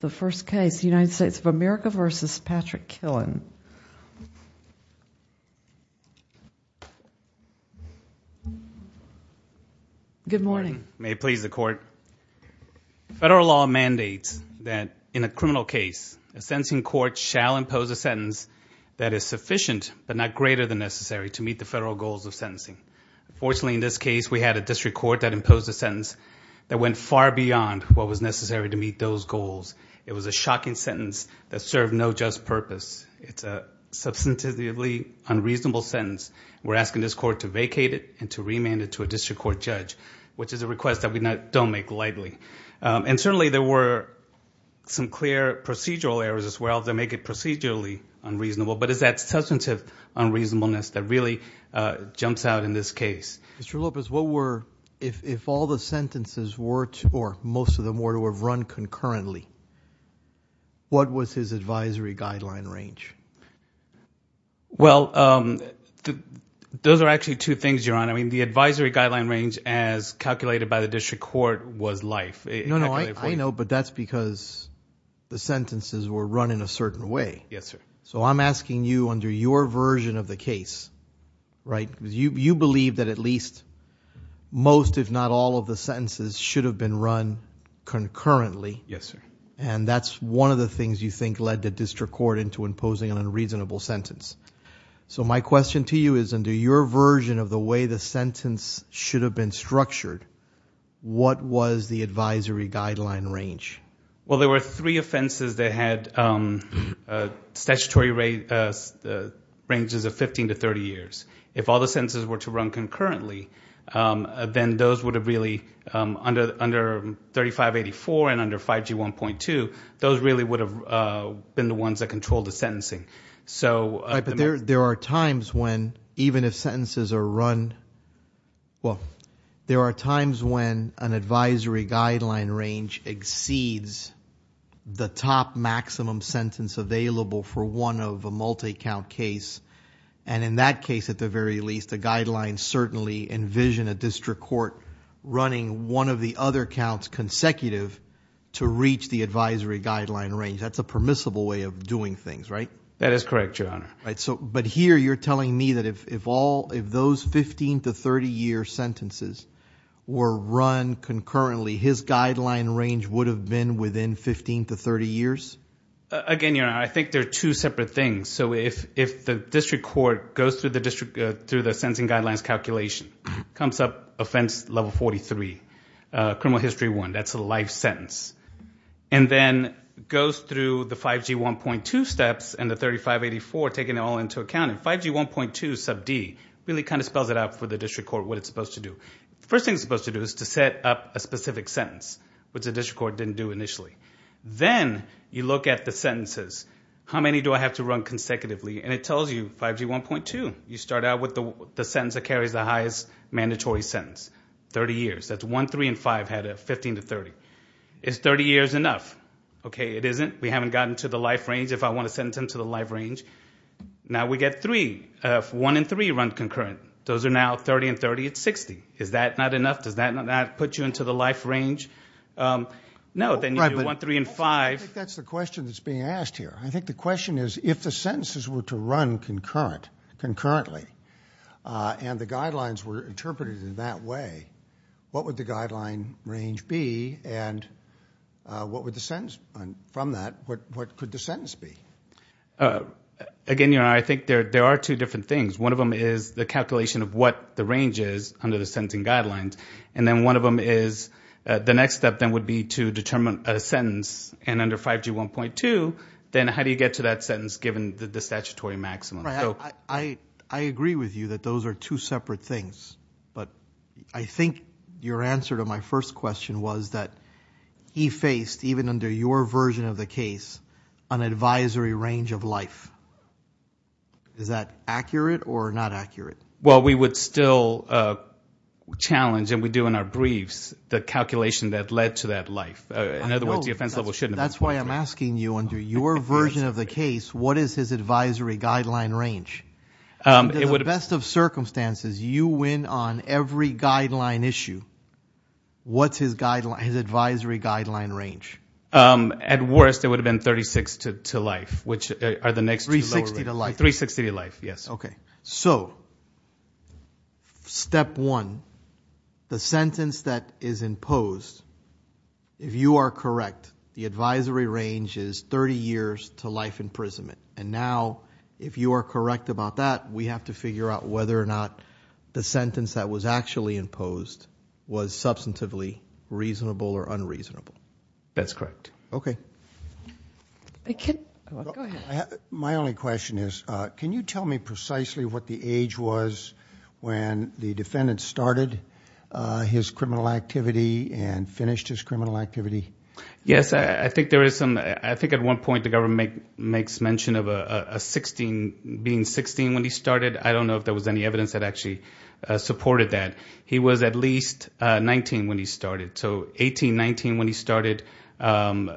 The first case, United States of America v. Patrick Killen. Good morning. May it please the court. Federal law mandates that in a criminal case, a sentencing court shall impose a sentence that is sufficient but not greater than necessary to meet the federal goals of sentencing. Fortunately, in this case, we had a district court that imposed a sentence that went far beyond what was necessary to meet those goals. It was a shocking sentence that served no just purpose. It's a substantively unreasonable sentence. We're asking this court to vacate it and to remand it to a district court judge, which is a request that we don't make lightly. And certainly there were some clear procedural errors as well that make it procedurally unreasonable, but it's that substantive unreasonableness that really jumps out in this case. Mr. Lopez, what were, if all the sentences were, or most of them were to have run concurrently, what was his advisory guideline range? Well, those are actually two things, Your Honor. I mean the advisory guideline range as calculated by the district court was life. No, no, I know, but that's because the sentences were run in a certain way. Yes, sir. So I'm asking you under your version of the case, right, because you believe that at least most if not all of the sentences should have been run concurrently. Yes, sir. And that's one of the things you think led the district court into imposing an unreasonable sentence. So my question to you is under your version of the way the sentence should have been structured, what was the advisory guideline range? Well, there were three offenses that had statutory ranges of 15 to 30 years. If all the sentences were to run concurrently, then those would have really, under 3584 and under 5G1.2, those really would have been the ones that controlled the sentencing. But there are times when even if sentences are run, well, there are times when an advisory guideline range exceeds the top maximum sentence available for one of a multi-count case, and in that case, at the very least, the guidelines certainly envision a district court running one of the other counts consecutive to reach the advisory guideline range. That's a permissible way of doing things, right? That is correct, Your Honor. But here you're telling me that if those 15 to 30-year sentences were run concurrently, his guideline range would have been within 15 to 30 years? Again, Your Honor, I think they're two separate things. So if the district court goes through the sentencing guidelines calculation, comes up offense level 43, criminal history one, that's a life sentence, and then goes through the 5G1.2 steps and the 3584, taking it all into account, and 5G1.2 sub D really kind of spells it out for the district court what it's supposed to do. The first thing it's supposed to do is to set up a specific sentence, which the district court didn't do initially. Then you look at the sentences. How many do I have to run consecutively? And it tells you 5G1.2. You start out with the sentence that carries the highest mandatory sentence, 30 years. That's one, three, and five had a 15 to 30. Is 30 years enough? Okay, it isn't. We haven't gotten to the life range. If I want to sentence him to the life range, now we get three. One and three run concurrent. Those are now 30 and 30 at 60. Is that not enough? Does that not put you into the life range? No, then you do one, three, and five. I think that's the question that's being asked here. I think the question is if the sentences were to run concurrently and the guidelines were interpreted in that way, what would the guideline range be? And what would the sentence from that, what could the sentence be? Again, I think there are two different things. One of them is the calculation of what the range is under the sentencing guidelines. And then one of them is the next step then would be to determine a sentence. And under 5G 1.2, then how do you get to that sentence given the statutory maximum? I agree with you that those are two separate things. But I think your answer to my first question was that he faced, even under your version of the case, an advisory range of life. Is that accurate or not accurate? Well, we would still challenge, and we do in our briefs, the calculation that led to that life. In other words, the offense level shouldn't have been. That's why I'm asking you under your version of the case, what is his advisory guideline range? Under the best of circumstances, you win on every guideline issue. What's his advisory guideline range? At worst, it would have been 36 to life, which are the next two lower ranges. 360 to life. 360 to life, yes. Okay. So, step one, the sentence that is imposed, if you are correct, the advisory range is 30 years to life imprisonment. And now, if you are correct about that, we have to figure out whether or not the sentence that was actually imposed was substantively reasonable or unreasonable. That's correct. Okay. Go ahead. My only question is, can you tell me precisely what the age was when the defendant started his criminal activity and finished his criminal activity? Yes. I think at one point the government makes mention of being 16 when he started. I don't know if there was any evidence that actually supported that. He was at least 19 when he started. So, 18, 19 when he started, 20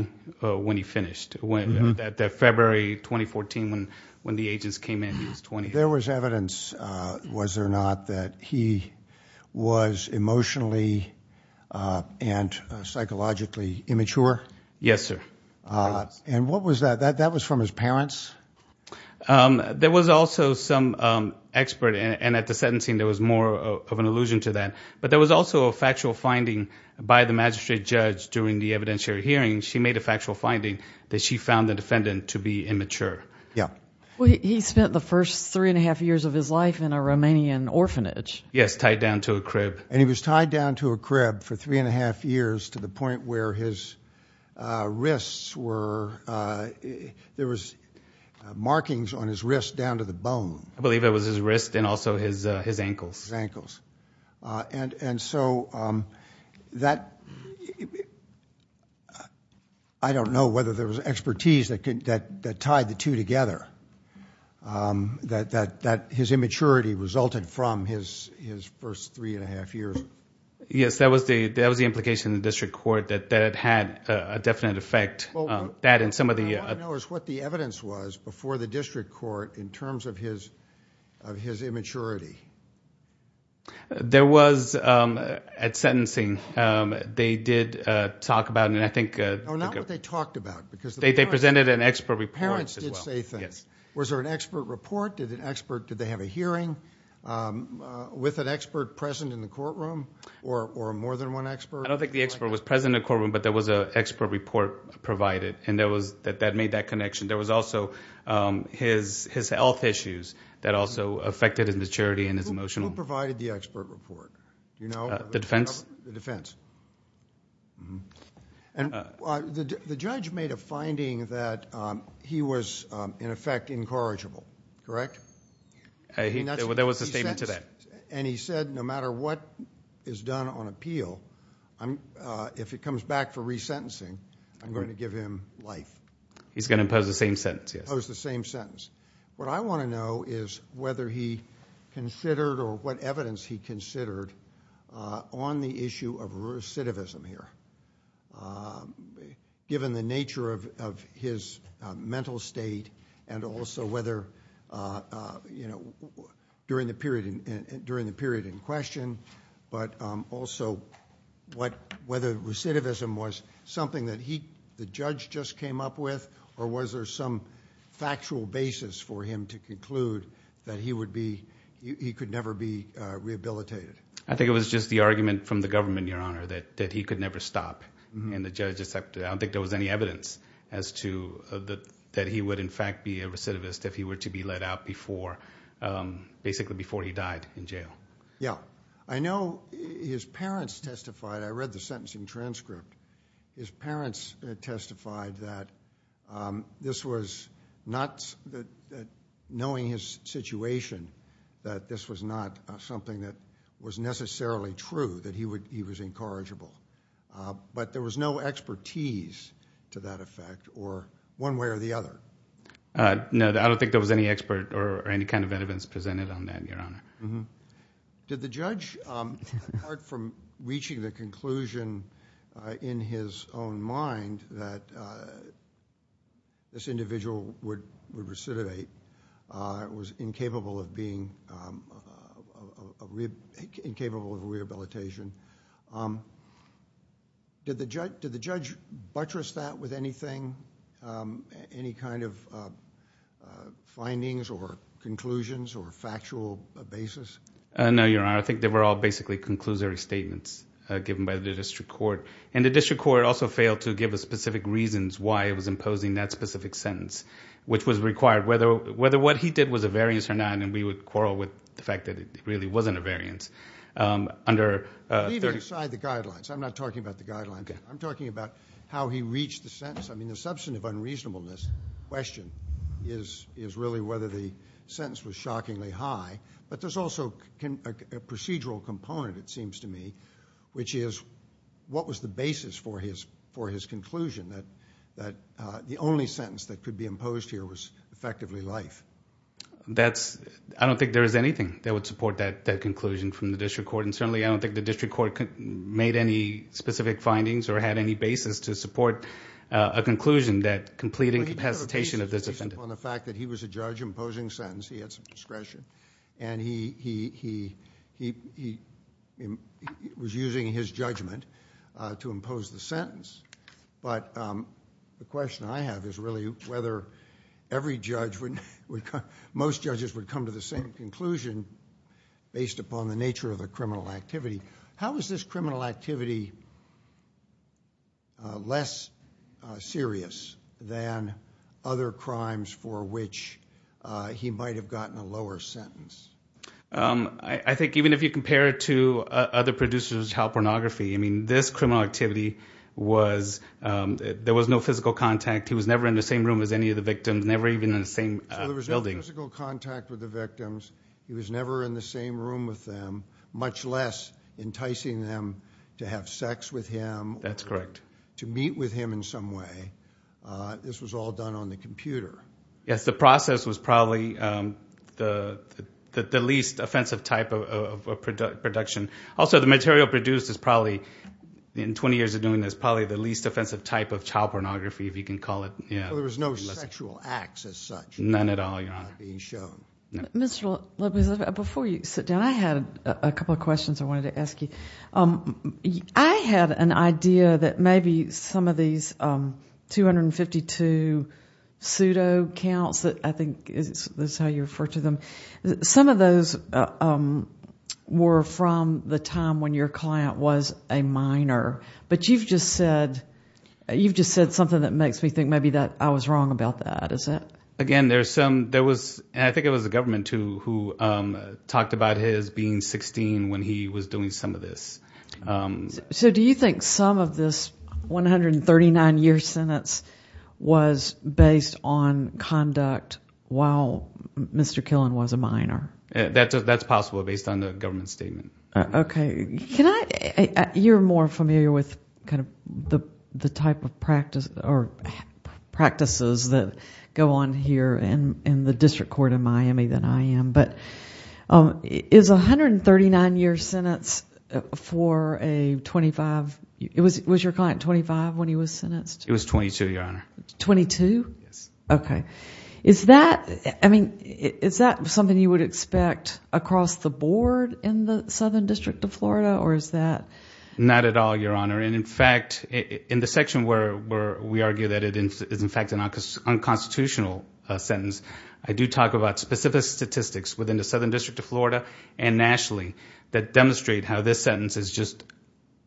when he finished. February 2014, when the agents came in, he was 20. There was evidence, was there not, that he was emotionally and psychologically immature? Yes, sir. And what was that? That was from his parents? There was also some expert, and at the sentencing there was more of an allusion to that. But there was also a factual finding by the magistrate judge during the evidentiary hearing. She made a factual finding that she found the defendant to be immature. Yeah. He spent the first three and a half years of his life in a Romanian orphanage. Yes, tied down to a crib. And he was tied down to a crib for three and a half years to the point where his wrists were, there was markings on his wrists down to the bone. His ankles. And so that, I don't know whether there was expertise that tied the two together, that his immaturity resulted from his first three and a half years. Yes, that was the implication in the district court, that it had a definite effect. That and some of the... What I want to know is what the evidence was before the district court in terms of his immaturity. There was, at sentencing, they did talk about, and I think... No, not what they talked about. They presented an expert report. Parents did say things. Yes. Was there an expert report? Did they have a hearing with an expert present in the courtroom or more than one expert? I don't think the expert was present in the courtroom, but there was an expert report provided, and that made that connection. There was also his health issues that also affected his maturity and his emotional... Who provided the expert report? Do you know? The defense? The defense. And the judge made a finding that he was, in effect, incorrigible, correct? There was a statement to that. And he said, no matter what is done on appeal, if it comes back for resentencing, I'm going to give him life. He's going to impose the same sentence, yes. Impose the same sentence. What I want to know is whether he considered or what evidence he considered on the issue of recidivism here, given the nature of his mental state and also whether, during the period in question, but also whether recidivism was something that the judge just came up with or was there some factual basis for him to conclude that he could never be rehabilitated? I think it was just the argument from the government, Your Honor, that he could never stop. I don't think there was any evidence as to that he would, in fact, be a recidivist if he were to be let out basically before he died in jail. Yeah. I know his parents testified. I read the sentencing transcript. His parents testified that this was not, knowing his situation, that this was not something that was necessarily true, that he was incorrigible. But there was no expertise to that effect or one way or the other. No, I don't think there was any expert or any kind of evidence presented on that, Your Honor. Did the judge, apart from reaching the conclusion in his own mind that this individual would recidivate, was incapable of being... incapable of rehabilitation, did the judge buttress that with anything, any kind of findings or conclusions or factual basis? No, Your Honor. I think they were all basically conclusory statements given by the district court. The district court also failed to give us specific reasons why it was imposing that specific sentence, which was required whether what he did was a variance or not, and we would quarrel with the fact that it really wasn't a variance. Leaving aside the guidelines, I'm not talking about the guidelines. I'm talking about how he reached the sentence. I mean the substantive unreasonableness question is really whether the sentence was shockingly high, but there's also a procedural component, it seems to me, which is what was the basis for his conclusion that the only sentence that could be imposed here was effectively life? That's... I don't think there is anything that would support that conclusion from the district court, and certainly I don't think the district court made any specific findings or had any basis to support a conclusion that completing capacitation of this... Well, he put a basis on the fact that he was a judge imposing sentence. He had some discretion, and he was using his judgment to impose the sentence, but the question I have is really whether every judge would... most judges would come to the same conclusion based upon the nature of the criminal activity. How is this criminal activity less serious than other crimes for which he might have gotten a lower sentence? I think even if you compare it to other producers of child pornography, I mean this criminal activity was... there was no physical contact. He was never in the same room as any of the victims, never even in the same building. So there was no physical contact with the victims. He was never in the same room with them, much less enticing them to have sex with him... That's correct.... to meet with him in some way. This was all done on the computer. Yes, the process was probably the least offensive type of production. Also, the material produced is probably, in 20 years of doing this, probably the least offensive type of child pornography, if you can call it. So there was no sexual acts as such? None at all, Your Honor. Not being shown. Mr. Lopez, before you sit down, I had a couple of questions I wanted to ask you. I had an idea that maybe some of these 252 pseudo counts that I think... this is how you refer to them. Some of those were from the time when your client was a minor. But you've just said something that makes me think maybe that I was wrong about that. Is that... Again, there's some... I think it was the government, too, who talked about his being 16 when he was doing some of this. So do you think some of this 139-year sentence was based on conduct while Mr. Killen was a minor? That's possible, based on the government statement. Okay. Can I... You're more familiar with the type of practices that go on here in the district court in Miami than I am. Is a 139-year sentence for a 25... Was your client 25 when he was sentenced? It was 22, Your Honor. 22? Yes. Okay. Is that something you would expect across the board in the Southern District of Florida, or is that... Not at all, Your Honor. In fact, in the section where we argue that it is, in fact, an unconstitutional sentence, I do talk about specific statistics within the Southern District of Florida and nationally that demonstrate how this sentence is just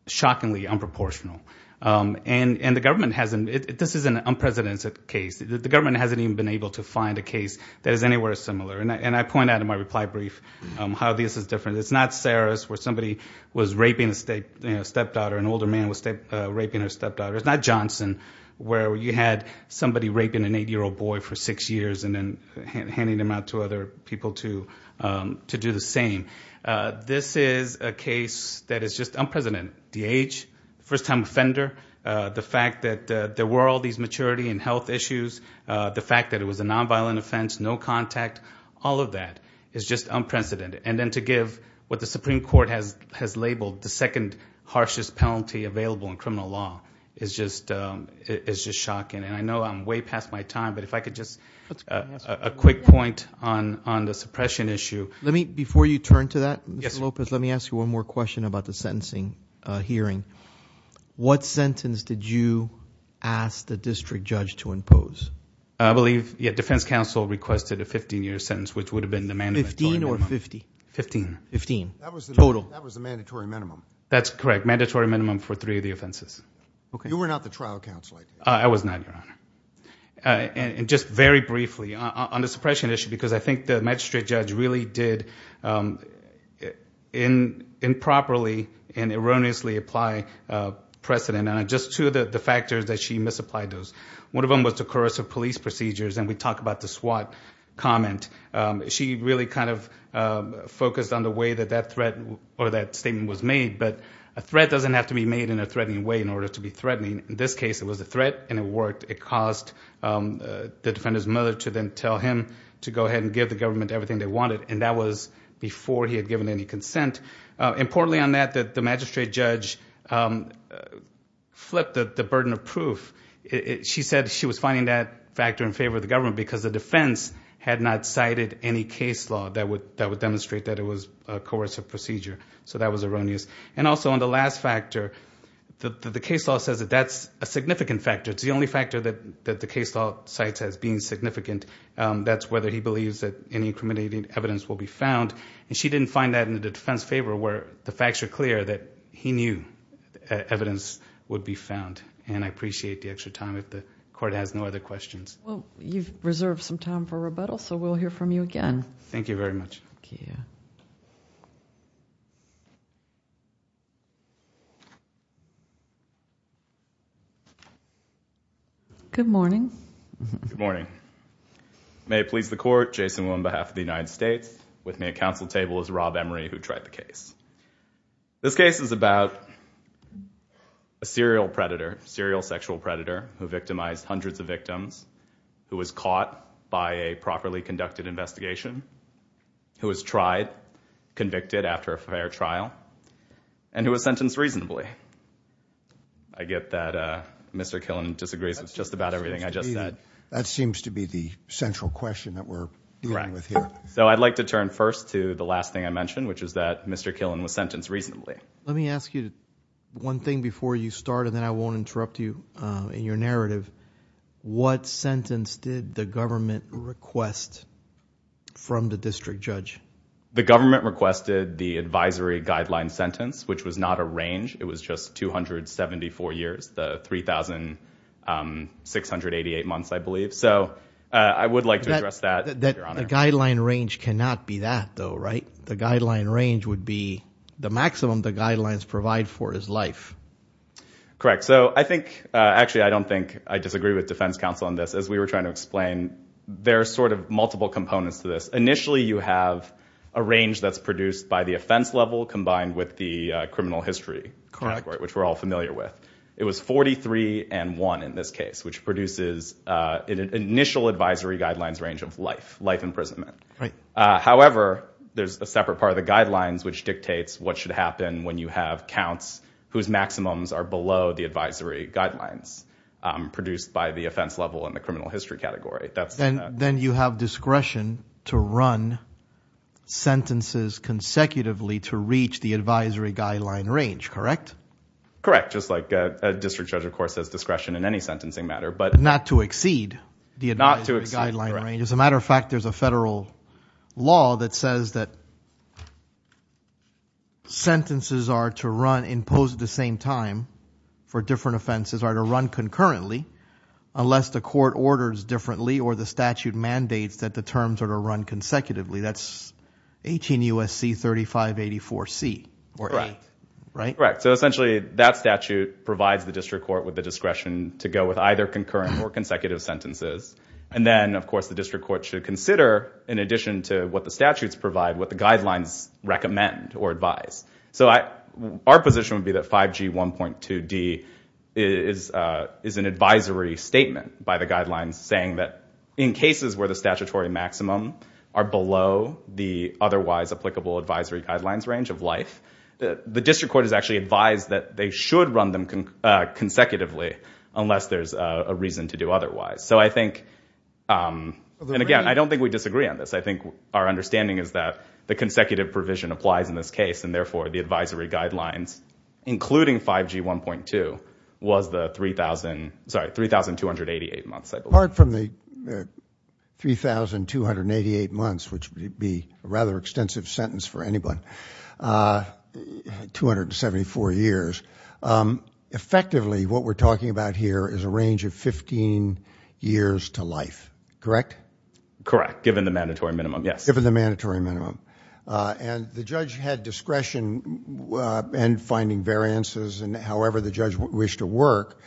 shockingly unproportional. And the government hasn't... This is an unprecedented case. The government hasn't even been able to find a case that is anywhere similar. And I point out in my reply brief how this is different. It's not Sarah's, where somebody was raping a stepdaughter. An older man was raping her stepdaughter. It's not Johnson, where you had somebody raping an eight-year-old boy for six years and then handing him out to other people to do the same. This is a case that is just unprecedented. The age, first-time offender, the fact that there were all these maturity and health issues, the fact that it was a nonviolent offense, no contact, all of that is just unprecedented. And then to give what the Supreme Court has labeled the second harshest penalty available in criminal law is just shocking. And I know I'm way past my time, but if I could just... A quick point on the suppression issue. Before you turn to that, Mr. Lopez, let me ask you one more question about the sentencing hearing. What sentence did you ask the district judge to impose? I believe, yeah, defense counsel requested a 15-year sentence, which would have been the mandatory minimum. Fifteen or fifty? Fifteen. Fifteen. Total. That was the mandatory minimum. That's correct, mandatory minimum for three of the offenses. You were not the trial counselor. I was not, Your Honor. And just very briefly, on the suppression issue, because I think the magistrate judge really did improperly and erroneously apply precedent, and just two of the factors that she misapplied those. One of them was the coercive police procedures, and we talk about the SWAT comment. She really kind of focused on the way that that statement was made, but a threat doesn't have to be made in a threatening way in order to be threatening. In this case, it was a threat, and it worked. It caused the defender's mother to then tell him to go ahead and give the government everything they wanted, and that was before he had given any consent. Importantly on that, the magistrate judge flipped the burden of proof. She said she was finding that factor in favor of the government because the defense had not cited any case law that would demonstrate that it was a coercive procedure, so that was erroneous. And also on the last factor, the case law says that that's a significant factor. It's the only factor that the case law cites as being significant. That's whether he believes that any incriminating evidence will be found, and she didn't find that in the defense favor where the facts were clear that he knew evidence would be found. And I appreciate the extra time if the court has no other questions. Well, you've reserved some time for rebuttal, so we'll hear from you again. Thank you very much. Good morning. Good morning. May it please the court, Jason Wu on behalf of the United States. With me at council table is Rob Emery, who tried the case. This case is about a serial predator, serial sexual predator, who victimized hundreds of victims, who was caught by a properly conducted investigation, who was tried, convicted after a fair trial, and who was sentenced reasonably. I get that Mr. Killen disagrees with just about everything I just said. That seems to be the central question that we're dealing with here. Right. So I'd like to turn first to the last thing I mentioned, which is that Mr. Killen was sentenced reasonably. Let me ask you one thing before you start, and then I won't interrupt you in your narrative. What sentence did the government request from the district judge? The government requested the advisory guideline sentence, which was not a range. It was just 274 years, the 3,688 months, I believe. So I would like to address that, Your Honor. The guideline range cannot be that, though, right? The guideline range would be the maximum the guidelines provide for his life. Correct. So I think actually I don't think I disagree with defense counsel on this. As we were trying to explain, there are sort of multiple components to this. Initially you have a range that's produced by the offense level combined with the criminal history category, which we're all familiar with. It was 43 and 1 in this case, which produces an initial advisory guidelines range of life, life imprisonment. However, there's a separate part of the guidelines which dictates what should happen when you have counts whose maximums are below the advisory guidelines produced by the offense level and the criminal history category. Then you have discretion to run sentences consecutively to reach the advisory guideline range, correct? Correct, just like a district judge, of course, has discretion in any sentencing matter. But not to exceed the advisory guideline range. As a matter of fact, there's a federal law that says that sentences are to run imposed at the same time for different offenses are to run concurrently unless the court orders differently or the statute mandates that the terms are to run consecutively. That's 18 U.S.C. 3584C or 8, right? Correct. So essentially that statute provides the district court with the discretion to go with either concurrent or consecutive sentences. And then, of course, the district court should consider, in addition to what the statutes provide, what the guidelines recommend or advise. So our position would be that 5G 1.2D is an advisory statement by the guidelines saying that in cases where the statutory maximum are below the otherwise applicable advisory guidelines range of life, the district court is actually advised that they should run them consecutively unless there's a reason to do otherwise. And, again, I don't think we disagree on this. I think our understanding is that the consecutive provision applies in this case and, therefore, the advisory guidelines, including 5G 1.2, was the 3,288 months. Apart from the 3,288 months, which would be a rather extensive sentence for anyone, 274 years, effectively what we're talking about here is a range of 15 years to life, correct? Correct, given the mandatory minimum, yes. And the judge had discretion in finding variances and however the judge wished to work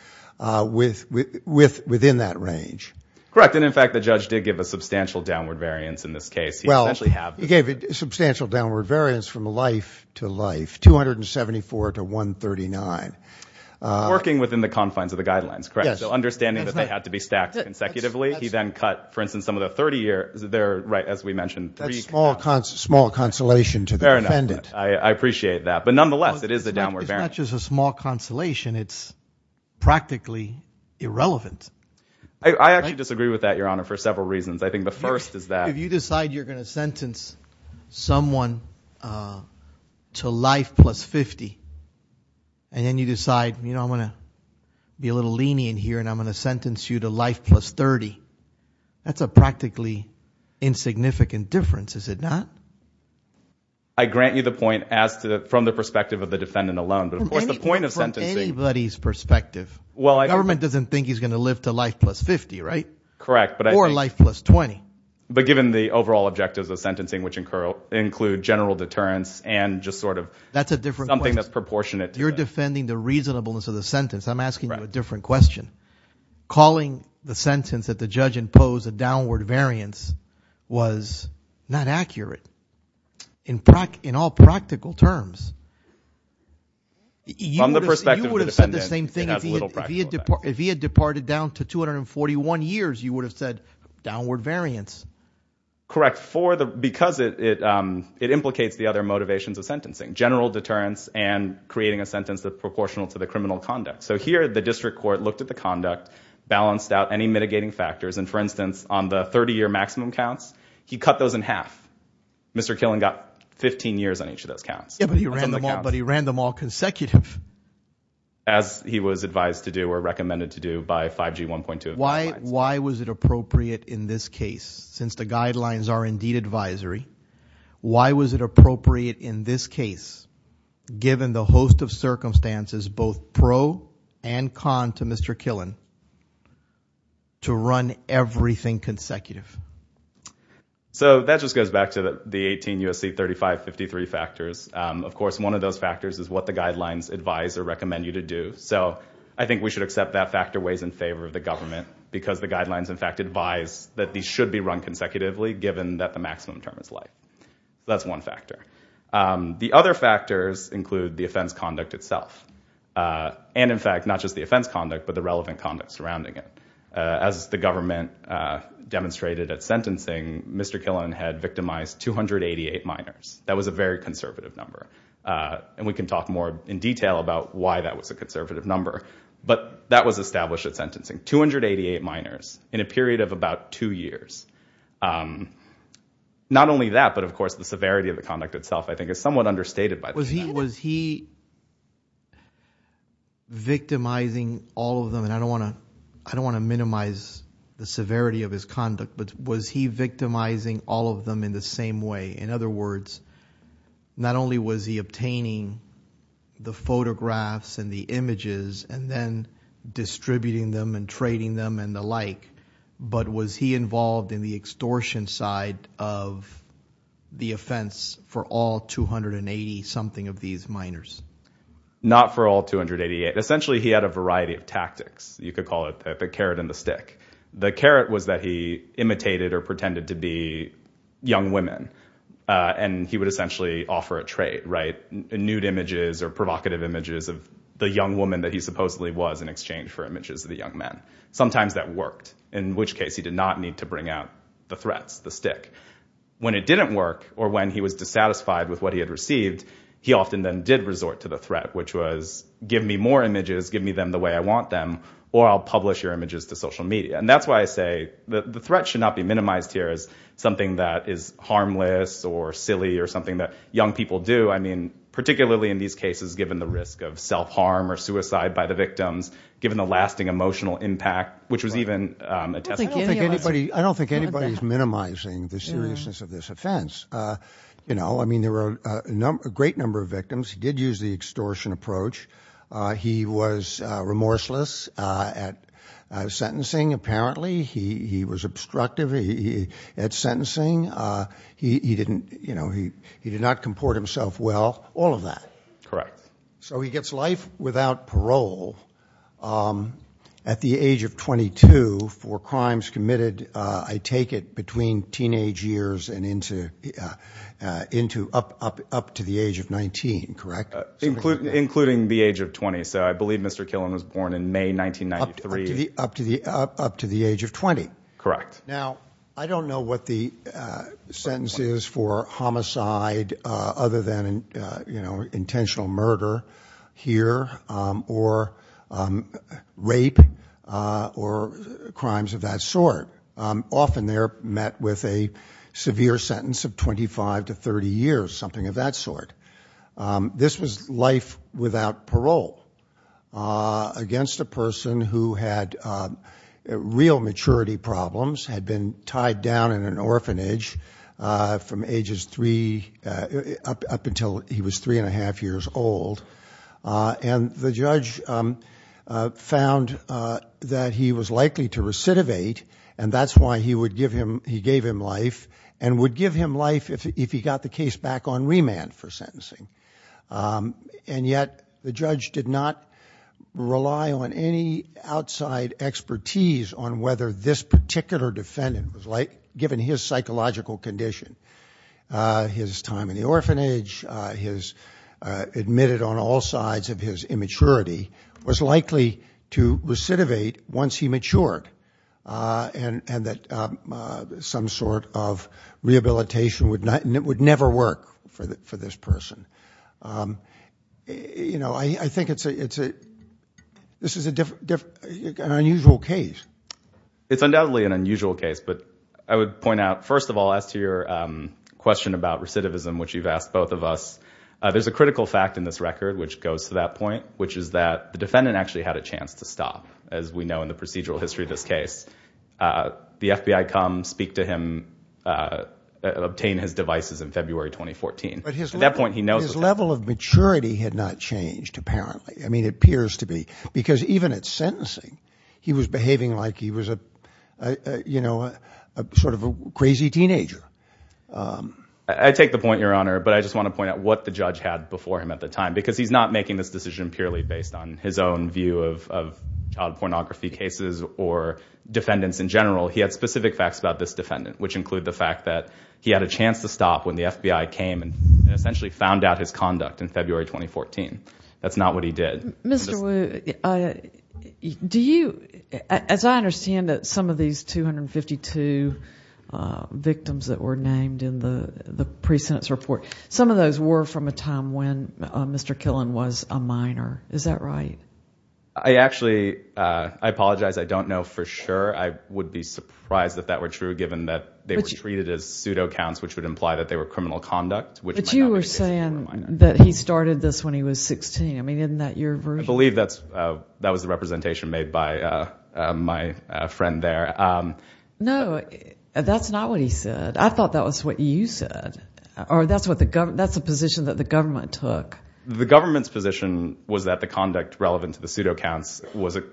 within that range. Correct. And, in fact, the judge did give a substantial downward variance in this case. Well, he gave a substantial downward variance from life to life, 274 to 139. Working within the confines of the guidelines, correct? Yes. So understanding that they had to be stacked consecutively, he then cut, for instance, some of the 30 years there, right, as we mentioned. That's small consolation to the defendant. Fair enough. I appreciate that. But, nonetheless, it is a downward variance. It's not just a small consolation. It's practically irrelevant. I actually disagree with that, Your Honor, for several reasons. I think the first is that- If you decide you're going to sentence someone to life plus 50 and then you decide, you know, I'm going to be a little lenient here and I'm going to sentence you to life plus 30, that's a practically insignificant difference, is it not? I grant you the point from the perspective of the defendant alone. But, of course, the point of sentencing- From anybody's perspective. Well, I- The government doesn't think he's going to live to life plus 50, right? Correct. Or life plus 20. But given the overall objectives of sentencing, which include general deterrence and just sort of- That's a different question. Something that's proportionate to that. You're defending the reasonableness of the sentence. I'm asking you a different question. Calling the sentence that the judge imposed a downward variance was not accurate in all practical terms. From the perspective of the defendant, it has little practical effect. You would have said the same thing if he had departed down to 241 years. You would have said downward variance. Correct. Because it implicates the other motivations of sentencing, general deterrence and creating a sentence that's proportional to the criminal conduct. So here the district court looked at the conduct, balanced out any mitigating factors. And, for instance, on the 30-year maximum counts, he cut those in half. Mr. Killen got 15 years on each of those counts. But he ran them all consecutive. As he was advised to do or recommended to do by 5G 1.2. Why was it appropriate in this case, since the guidelines are indeed advisory, why was it appropriate in this case, given the host of circumstances both pro and con to Mr. Killen, to run everything consecutive? So that just goes back to the 18 U.S.C. 3553 factors. Of course, one of those factors is what the guidelines advise or recommend you to do. So I think we should accept that factor weighs in favor of the government, because the guidelines in fact advise that these should be run consecutively, given that the maximum term is life. That's one factor. The other factors include the offense conduct itself. And, in fact, not just the offense conduct, but the relevant conduct surrounding it. As the government demonstrated at sentencing, Mr. Killen had victimized 288 minors. That was a very conservative number. And we can talk more in detail about why that was a conservative number. But that was established at sentencing. 288 minors in a period of about two years. Not only that, but, of course, the severity of the conduct itself, I think, is somewhat understated by that. Was he victimizing all of them? And I don't want to minimize the severity of his conduct, but was he victimizing all of them in the same way? In other words, not only was he obtaining the photographs and the images and then distributing them and trading them and the like, but was he involved in the extortion side of the offense for all 280-something of these minors? Not for all 288. Essentially he had a variety of tactics. You could call it the carrot and the stick. The carrot was that he imitated or pretended to be young women. And he would essentially offer a trade, right? Nude images or provocative images of the young woman that he supposedly was in exchange for images of the young men. Sometimes that worked, in which case he did not need to bring out the threats, the stick. When it didn't work or when he was dissatisfied with what he had received, he often then did resort to the threat, which was give me more images, give me them the way I want them, or I'll publish your images to social media. And that's why I say the threat should not be minimized here as something that is harmless or silly or something that young people do. I mean, particularly in these cases, given the risk of self-harm or suicide by the victims, given the lasting emotional impact, which was even a test. I don't think anybody is minimizing the seriousness of this offense. You know, I mean, there were a great number of victims. He did use the extortion approach. He was remorseless at sentencing, apparently. He was obstructive at sentencing. He didn't, you know, he did not comport himself well. All of that. Correct. So he gets life without parole at the age of 22 for crimes committed, I take it, between teenage years and up to the age of 19, correct? Including the age of 20. So I believe Mr. Killen was born in May 1993. Up to the age of 20. Correct. Now, I don't know what the sentence is for homicide other than, you know, intentional murder here or rape or crimes of that sort. Often they're met with a severe sentence of 25 to 30 years, something of that sort. This was life without parole against a person who had real maturity problems, had been tied down in an orphanage from ages three up until he was three and a half years old. And the judge found that he was likely to recidivate, and that's why he gave him life and would give him life if he got the case back on remand for sentencing. And yet the judge did not rely on any outside expertise on whether this particular defendant was, given his psychological condition, his time in the orphanage, his admitted on all sides of his immaturity, was likely to recidivate once he matured. And that some sort of rehabilitation would never work for this person. You know, I think this is an unusual case. It's undoubtedly an unusual case, but I would point out, first of all, as to your question about recidivism, which you've asked both of us, there's a critical fact in this record which goes to that point, which is that the defendant actually had a chance to stop, as we know in the procedural history of this case. The FBI come speak to him, obtain his devices in February 2014. But his level of maturity had not changed, apparently. I mean, it appears to be. Because even at sentencing, he was behaving like he was a sort of a crazy teenager. I take the point, Your Honor, but I just want to point out what the judge had before him at the time. Because he's not making this decision purely based on his own view of child pornography cases or defendants in general. He had specific facts about this defendant, which include the fact that he had a chance to stop when the FBI came and essentially found out his conduct in February 2014. That's not what he did. Mr. Wu, as I understand it, some of these 252 victims that were named in the pre-sentence report, some of those were from a time when Mr. Killen was a minor. Is that right? I actually apologize. I don't know for sure. I would be surprised if that were true, given that they were treated as pseudo counts, which would imply that they were criminal conduct. But you were saying that he started this when he was 16. I mean, isn't that your version? I believe that was the representation made by my friend there. No, that's not what he said. I thought that was what you said. Or that's the position that the government took. The government's position was that the conduct relevant to the pseudo counts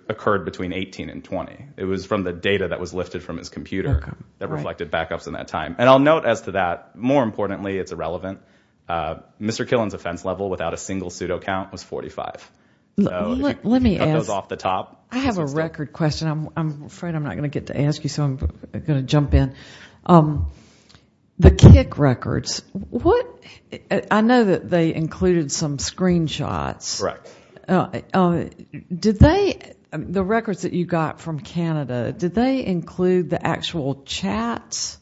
occurred between 18 and 20. It was from the data that was lifted from his computer that reflected backups in that time. And I'll note as to that, more importantly, it's irrelevant. Mr. Killen's offense level without a single pseudo count was 45. Let me ask. I have a record question. I'm afraid I'm not going to get to ask you, so I'm going to jump in. The KIC records, I know that they included some screenshots. Correct. The records that you got from Canada, did they include the actual chats?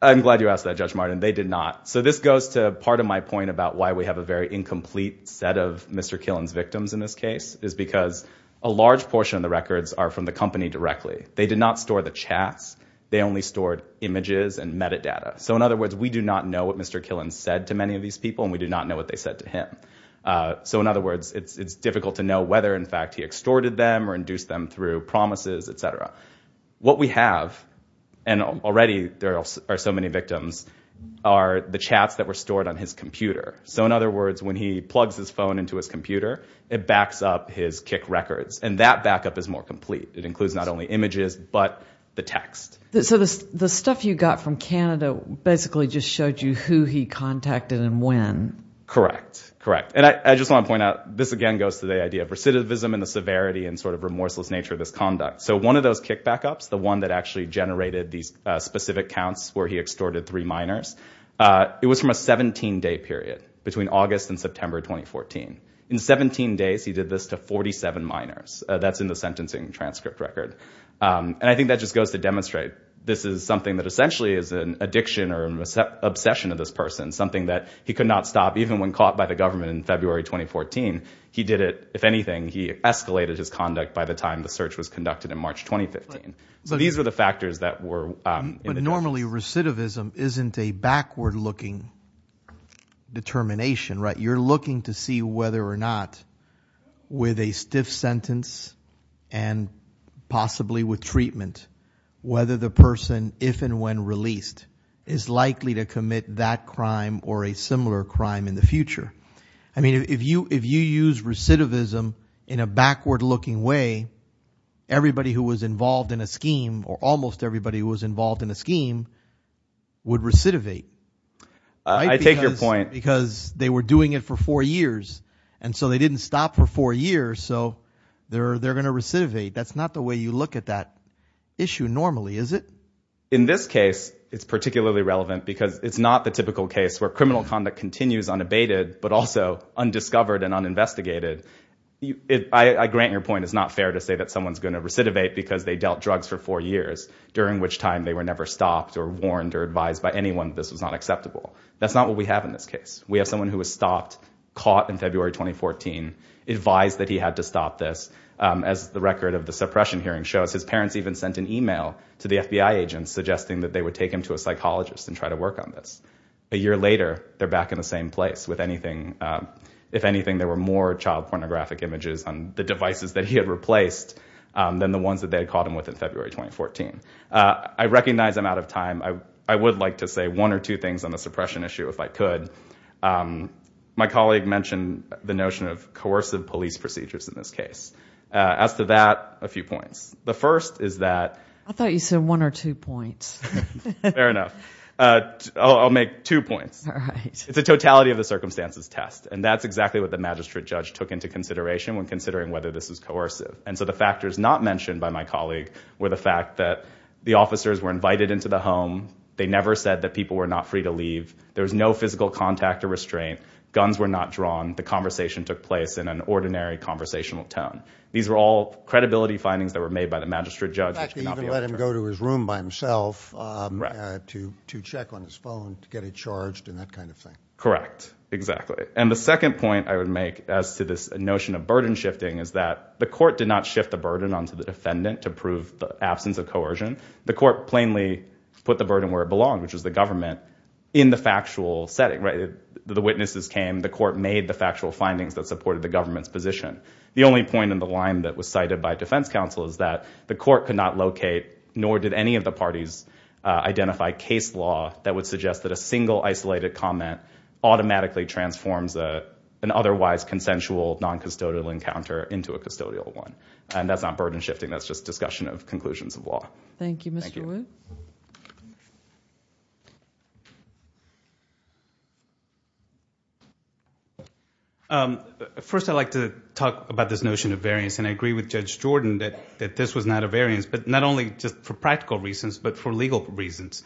I'm glad you asked that, Judge Martin. They did not. So this goes to part of my point about why we have a very incomplete set of Mr. Killen's victims in this case, is because a large portion of the records are from the company directly. They did not store the chats. They only stored images and metadata. So in other words, we do not know what Mr. Killen said to many of these people, and we do not know what they said to him. So in other words, it's difficult to know whether, in fact, he extorted them or induced them through promises, etc. What we have, and already there are so many victims, are the chats that were stored on his computer. So in other words, when he plugs his phone into his computer, it backs up his KIC records. And that backup is more complete. It includes not only images, but the text. So the stuff you got from Canada basically just showed you who he contacted and when. Correct. Correct. And I just want to point out, this again goes to the idea of recidivism and the severity and sort of remorseless nature of this conduct. So one of those KIC backups, the one that actually generated these specific counts where he extorted three minors, it was from a 17-day period between August and September 2014. In 17 days, he did this to 47 minors. That's in the sentencing transcript record. And I think that just goes to demonstrate this is something that essentially is an addiction or an obsession of this person, something that he could not stop, even when caught by the government in February 2014. He did it. If anything, he escalated his conduct by the time the search was conducted in March 2015. So these are the factors that were in addition. But normally recidivism isn't a backward-looking determination, right? You're looking to see whether or not, with a stiff sentence and possibly with treatment, whether the person, if and when released, is likely to commit that crime or a similar crime in the future. I mean, if you use recidivism in a backward-looking way, everybody who was involved in a scheme, or almost everybody who was involved in a scheme, would recidivate. I take your point. Because they were doing it for four years, and so they didn't stop for four years, so they're going to recidivate. That's not the way you look at that issue normally, is it? In this case, it's particularly relevant because it's not the typical case where criminal conduct continues unabated, but also undiscovered and uninvestigated. I grant your point. It's not fair to say that someone's going to recidivate because they dealt drugs for four years, during which time they were never stopped or warned or advised by anyone that this was not acceptable. That's not what we have in this case. We have someone who was stopped, caught in February 2014, advised that he had to stop this. As the record of the suppression hearing shows, his parents even sent an email to the FBI agents suggesting that they would take him to a psychologist and try to work on this. A year later, they're back in the same place. If anything, there were more child pornographic images on the devices that he had replaced than the ones that they had caught him with in February 2014. I recognize I'm out of time. I would like to say one or two things on the suppression issue, if I could. My colleague mentioned the notion of coercive police procedures in this case. As to that, a few points. The first is that... I thought you said one or two points. Fair enough. I'll make two points. It's a totality of the circumstances test, and that's exactly what the magistrate judge took into consideration when considering whether this was coercive. The factors not mentioned by my colleague were the fact that the officers were invited into the home. They never said that people were not free to leave. There was no physical contact or restraint. Guns were not drawn. The conversation took place in an ordinary conversational tone. These were all credibility findings that were made by the magistrate judge. In fact, they even let him go to his room by himself to check on his phone, to get it charged, and that kind of thing. Correct. Exactly. The second point I would make as to this notion of burden shifting is that the court did not shift the burden onto the defendant to prove the absence of coercion. The court plainly put the burden where it belonged, which was the government, in the factual setting. The witnesses came. The court made the factual findings that supported the government's position. The only point in the line that was cited by defense counsel is that the court could not locate, nor did any of the parties identify, case law that would suggest that a single isolated comment automatically transforms an otherwise consensual noncustodial encounter into a custodial one. And that's not burden shifting. That's just discussion of conclusions of law. Thank you, Mr. Wood. First, I'd like to talk about this notion of variance, and I agree with Judge Jordan that this was not a variance, but not only just for practical reasons, but for legal reasons.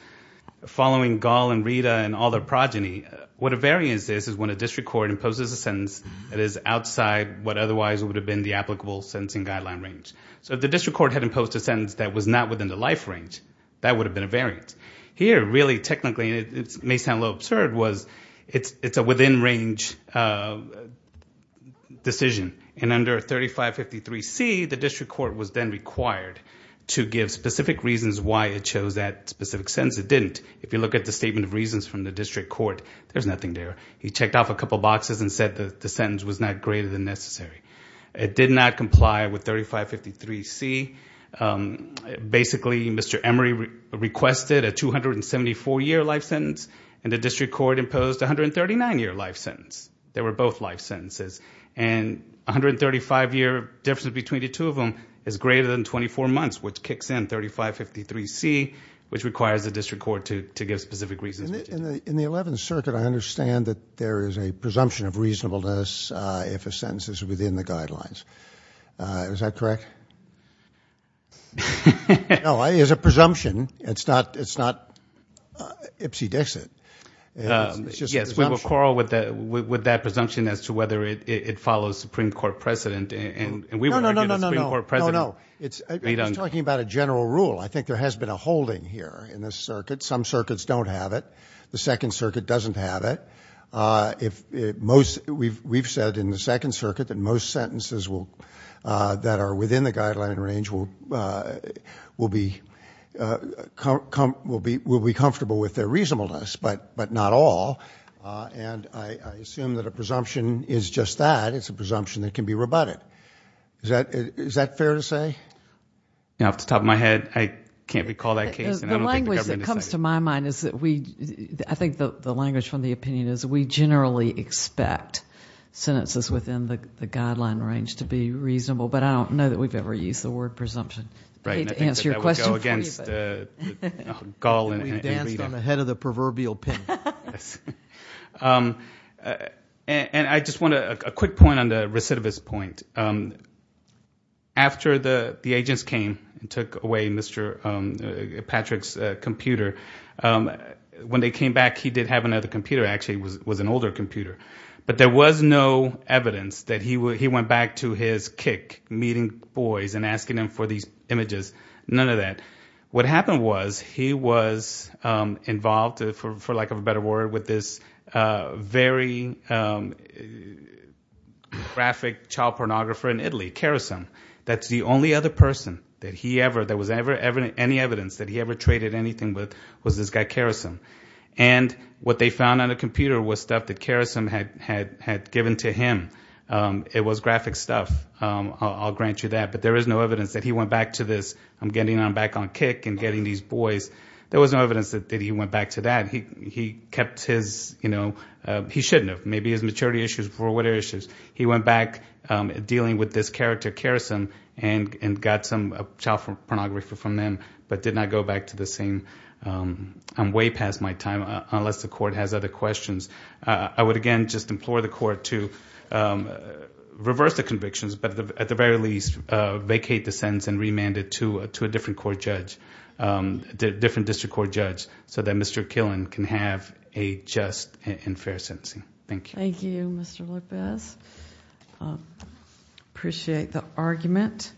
Following Gall and Rita and all their progeny, what a variance is is when a district court imposes a sentence that is outside what otherwise would have been the applicable sentencing guideline range. So if the district court had imposed a sentence that was not within the life range, that would have been a variance. Here, really, technically, and it may sound a little absurd, it's a within-range decision. And under 3553C, the district court was then required to give specific reasons why it chose that specific sentence. It didn't. If you look at the statement of reasons from the district court, there's nothing there. He checked off a couple boxes and said that the sentence was not greater than necessary. It did not comply with 3553C. Basically, Mr. Emery requested a 274-year life sentence, and the district court imposed a 139-year life sentence. They were both life sentences. And 135-year difference between the two of them is greater than 24 months, which kicks in 3553C, which requires the district court to give specific reasons. In the Eleventh Circuit, I understand that there is a presumption of reasonableness if a sentence is within the guidelines. Is that correct? No, it is a presumption. It's not ipsy-dixit. Yes, we will quarrel with that presumption as to whether it follows Supreme Court precedent. No, no, no, no, no, no. He's talking about a general rule. I think there has been a holding here in this circuit. Some circuits don't have it. The Second Circuit doesn't have it. We've said in the Second Circuit that most sentences that are within the guideline range will be comfortable with their reasonableness. But not all. And I assume that a presumption is just that. It's a presumption that can be rebutted. Is that fair to say? Off the top of my head, I can't recall that case, and I don't think the government decided it. The language that comes to my mind is that we – I think the language from the opinion is we generally expect sentences within the guideline range to be reasonable. But I don't know that we've ever used the word presumption. I hate to answer your question. We danced on the head of the proverbial pin. And I just want to – a quick point on the recidivist point. After the agents came and took away Mr. Patrick's computer, when they came back, he did have another computer. Actually, it was an older computer. But there was no evidence that he went back to his kick meeting boys and asking them for these images. None of that. What happened was he was involved, for lack of a better word, with this very graphic child pornographer in Italy, Karasum. That's the only other person that he ever – that was ever – any evidence that he ever traded anything with was this guy Karasum. And what they found on the computer was stuff that Karasum had given to him. It was graphic stuff. I'll grant you that. But there is no evidence that he went back to this, I'm getting back on kick and getting these boys. There was no evidence that he went back to that. He kept his – he shouldn't have. Maybe his maturity issues were what issues. He went back dealing with this character Karasum and got some child pornography from them but did not go back to the same. I'm way past my time, unless the court has other questions. I would, again, just implore the court to reverse the convictions, but at the very least vacate the sentence and remand it to a different court judge, different district court judge, so that Mr. Killen can have a just and fair sentencing. Thank you. Thank you, Mr. Lopez. Appreciate the argument.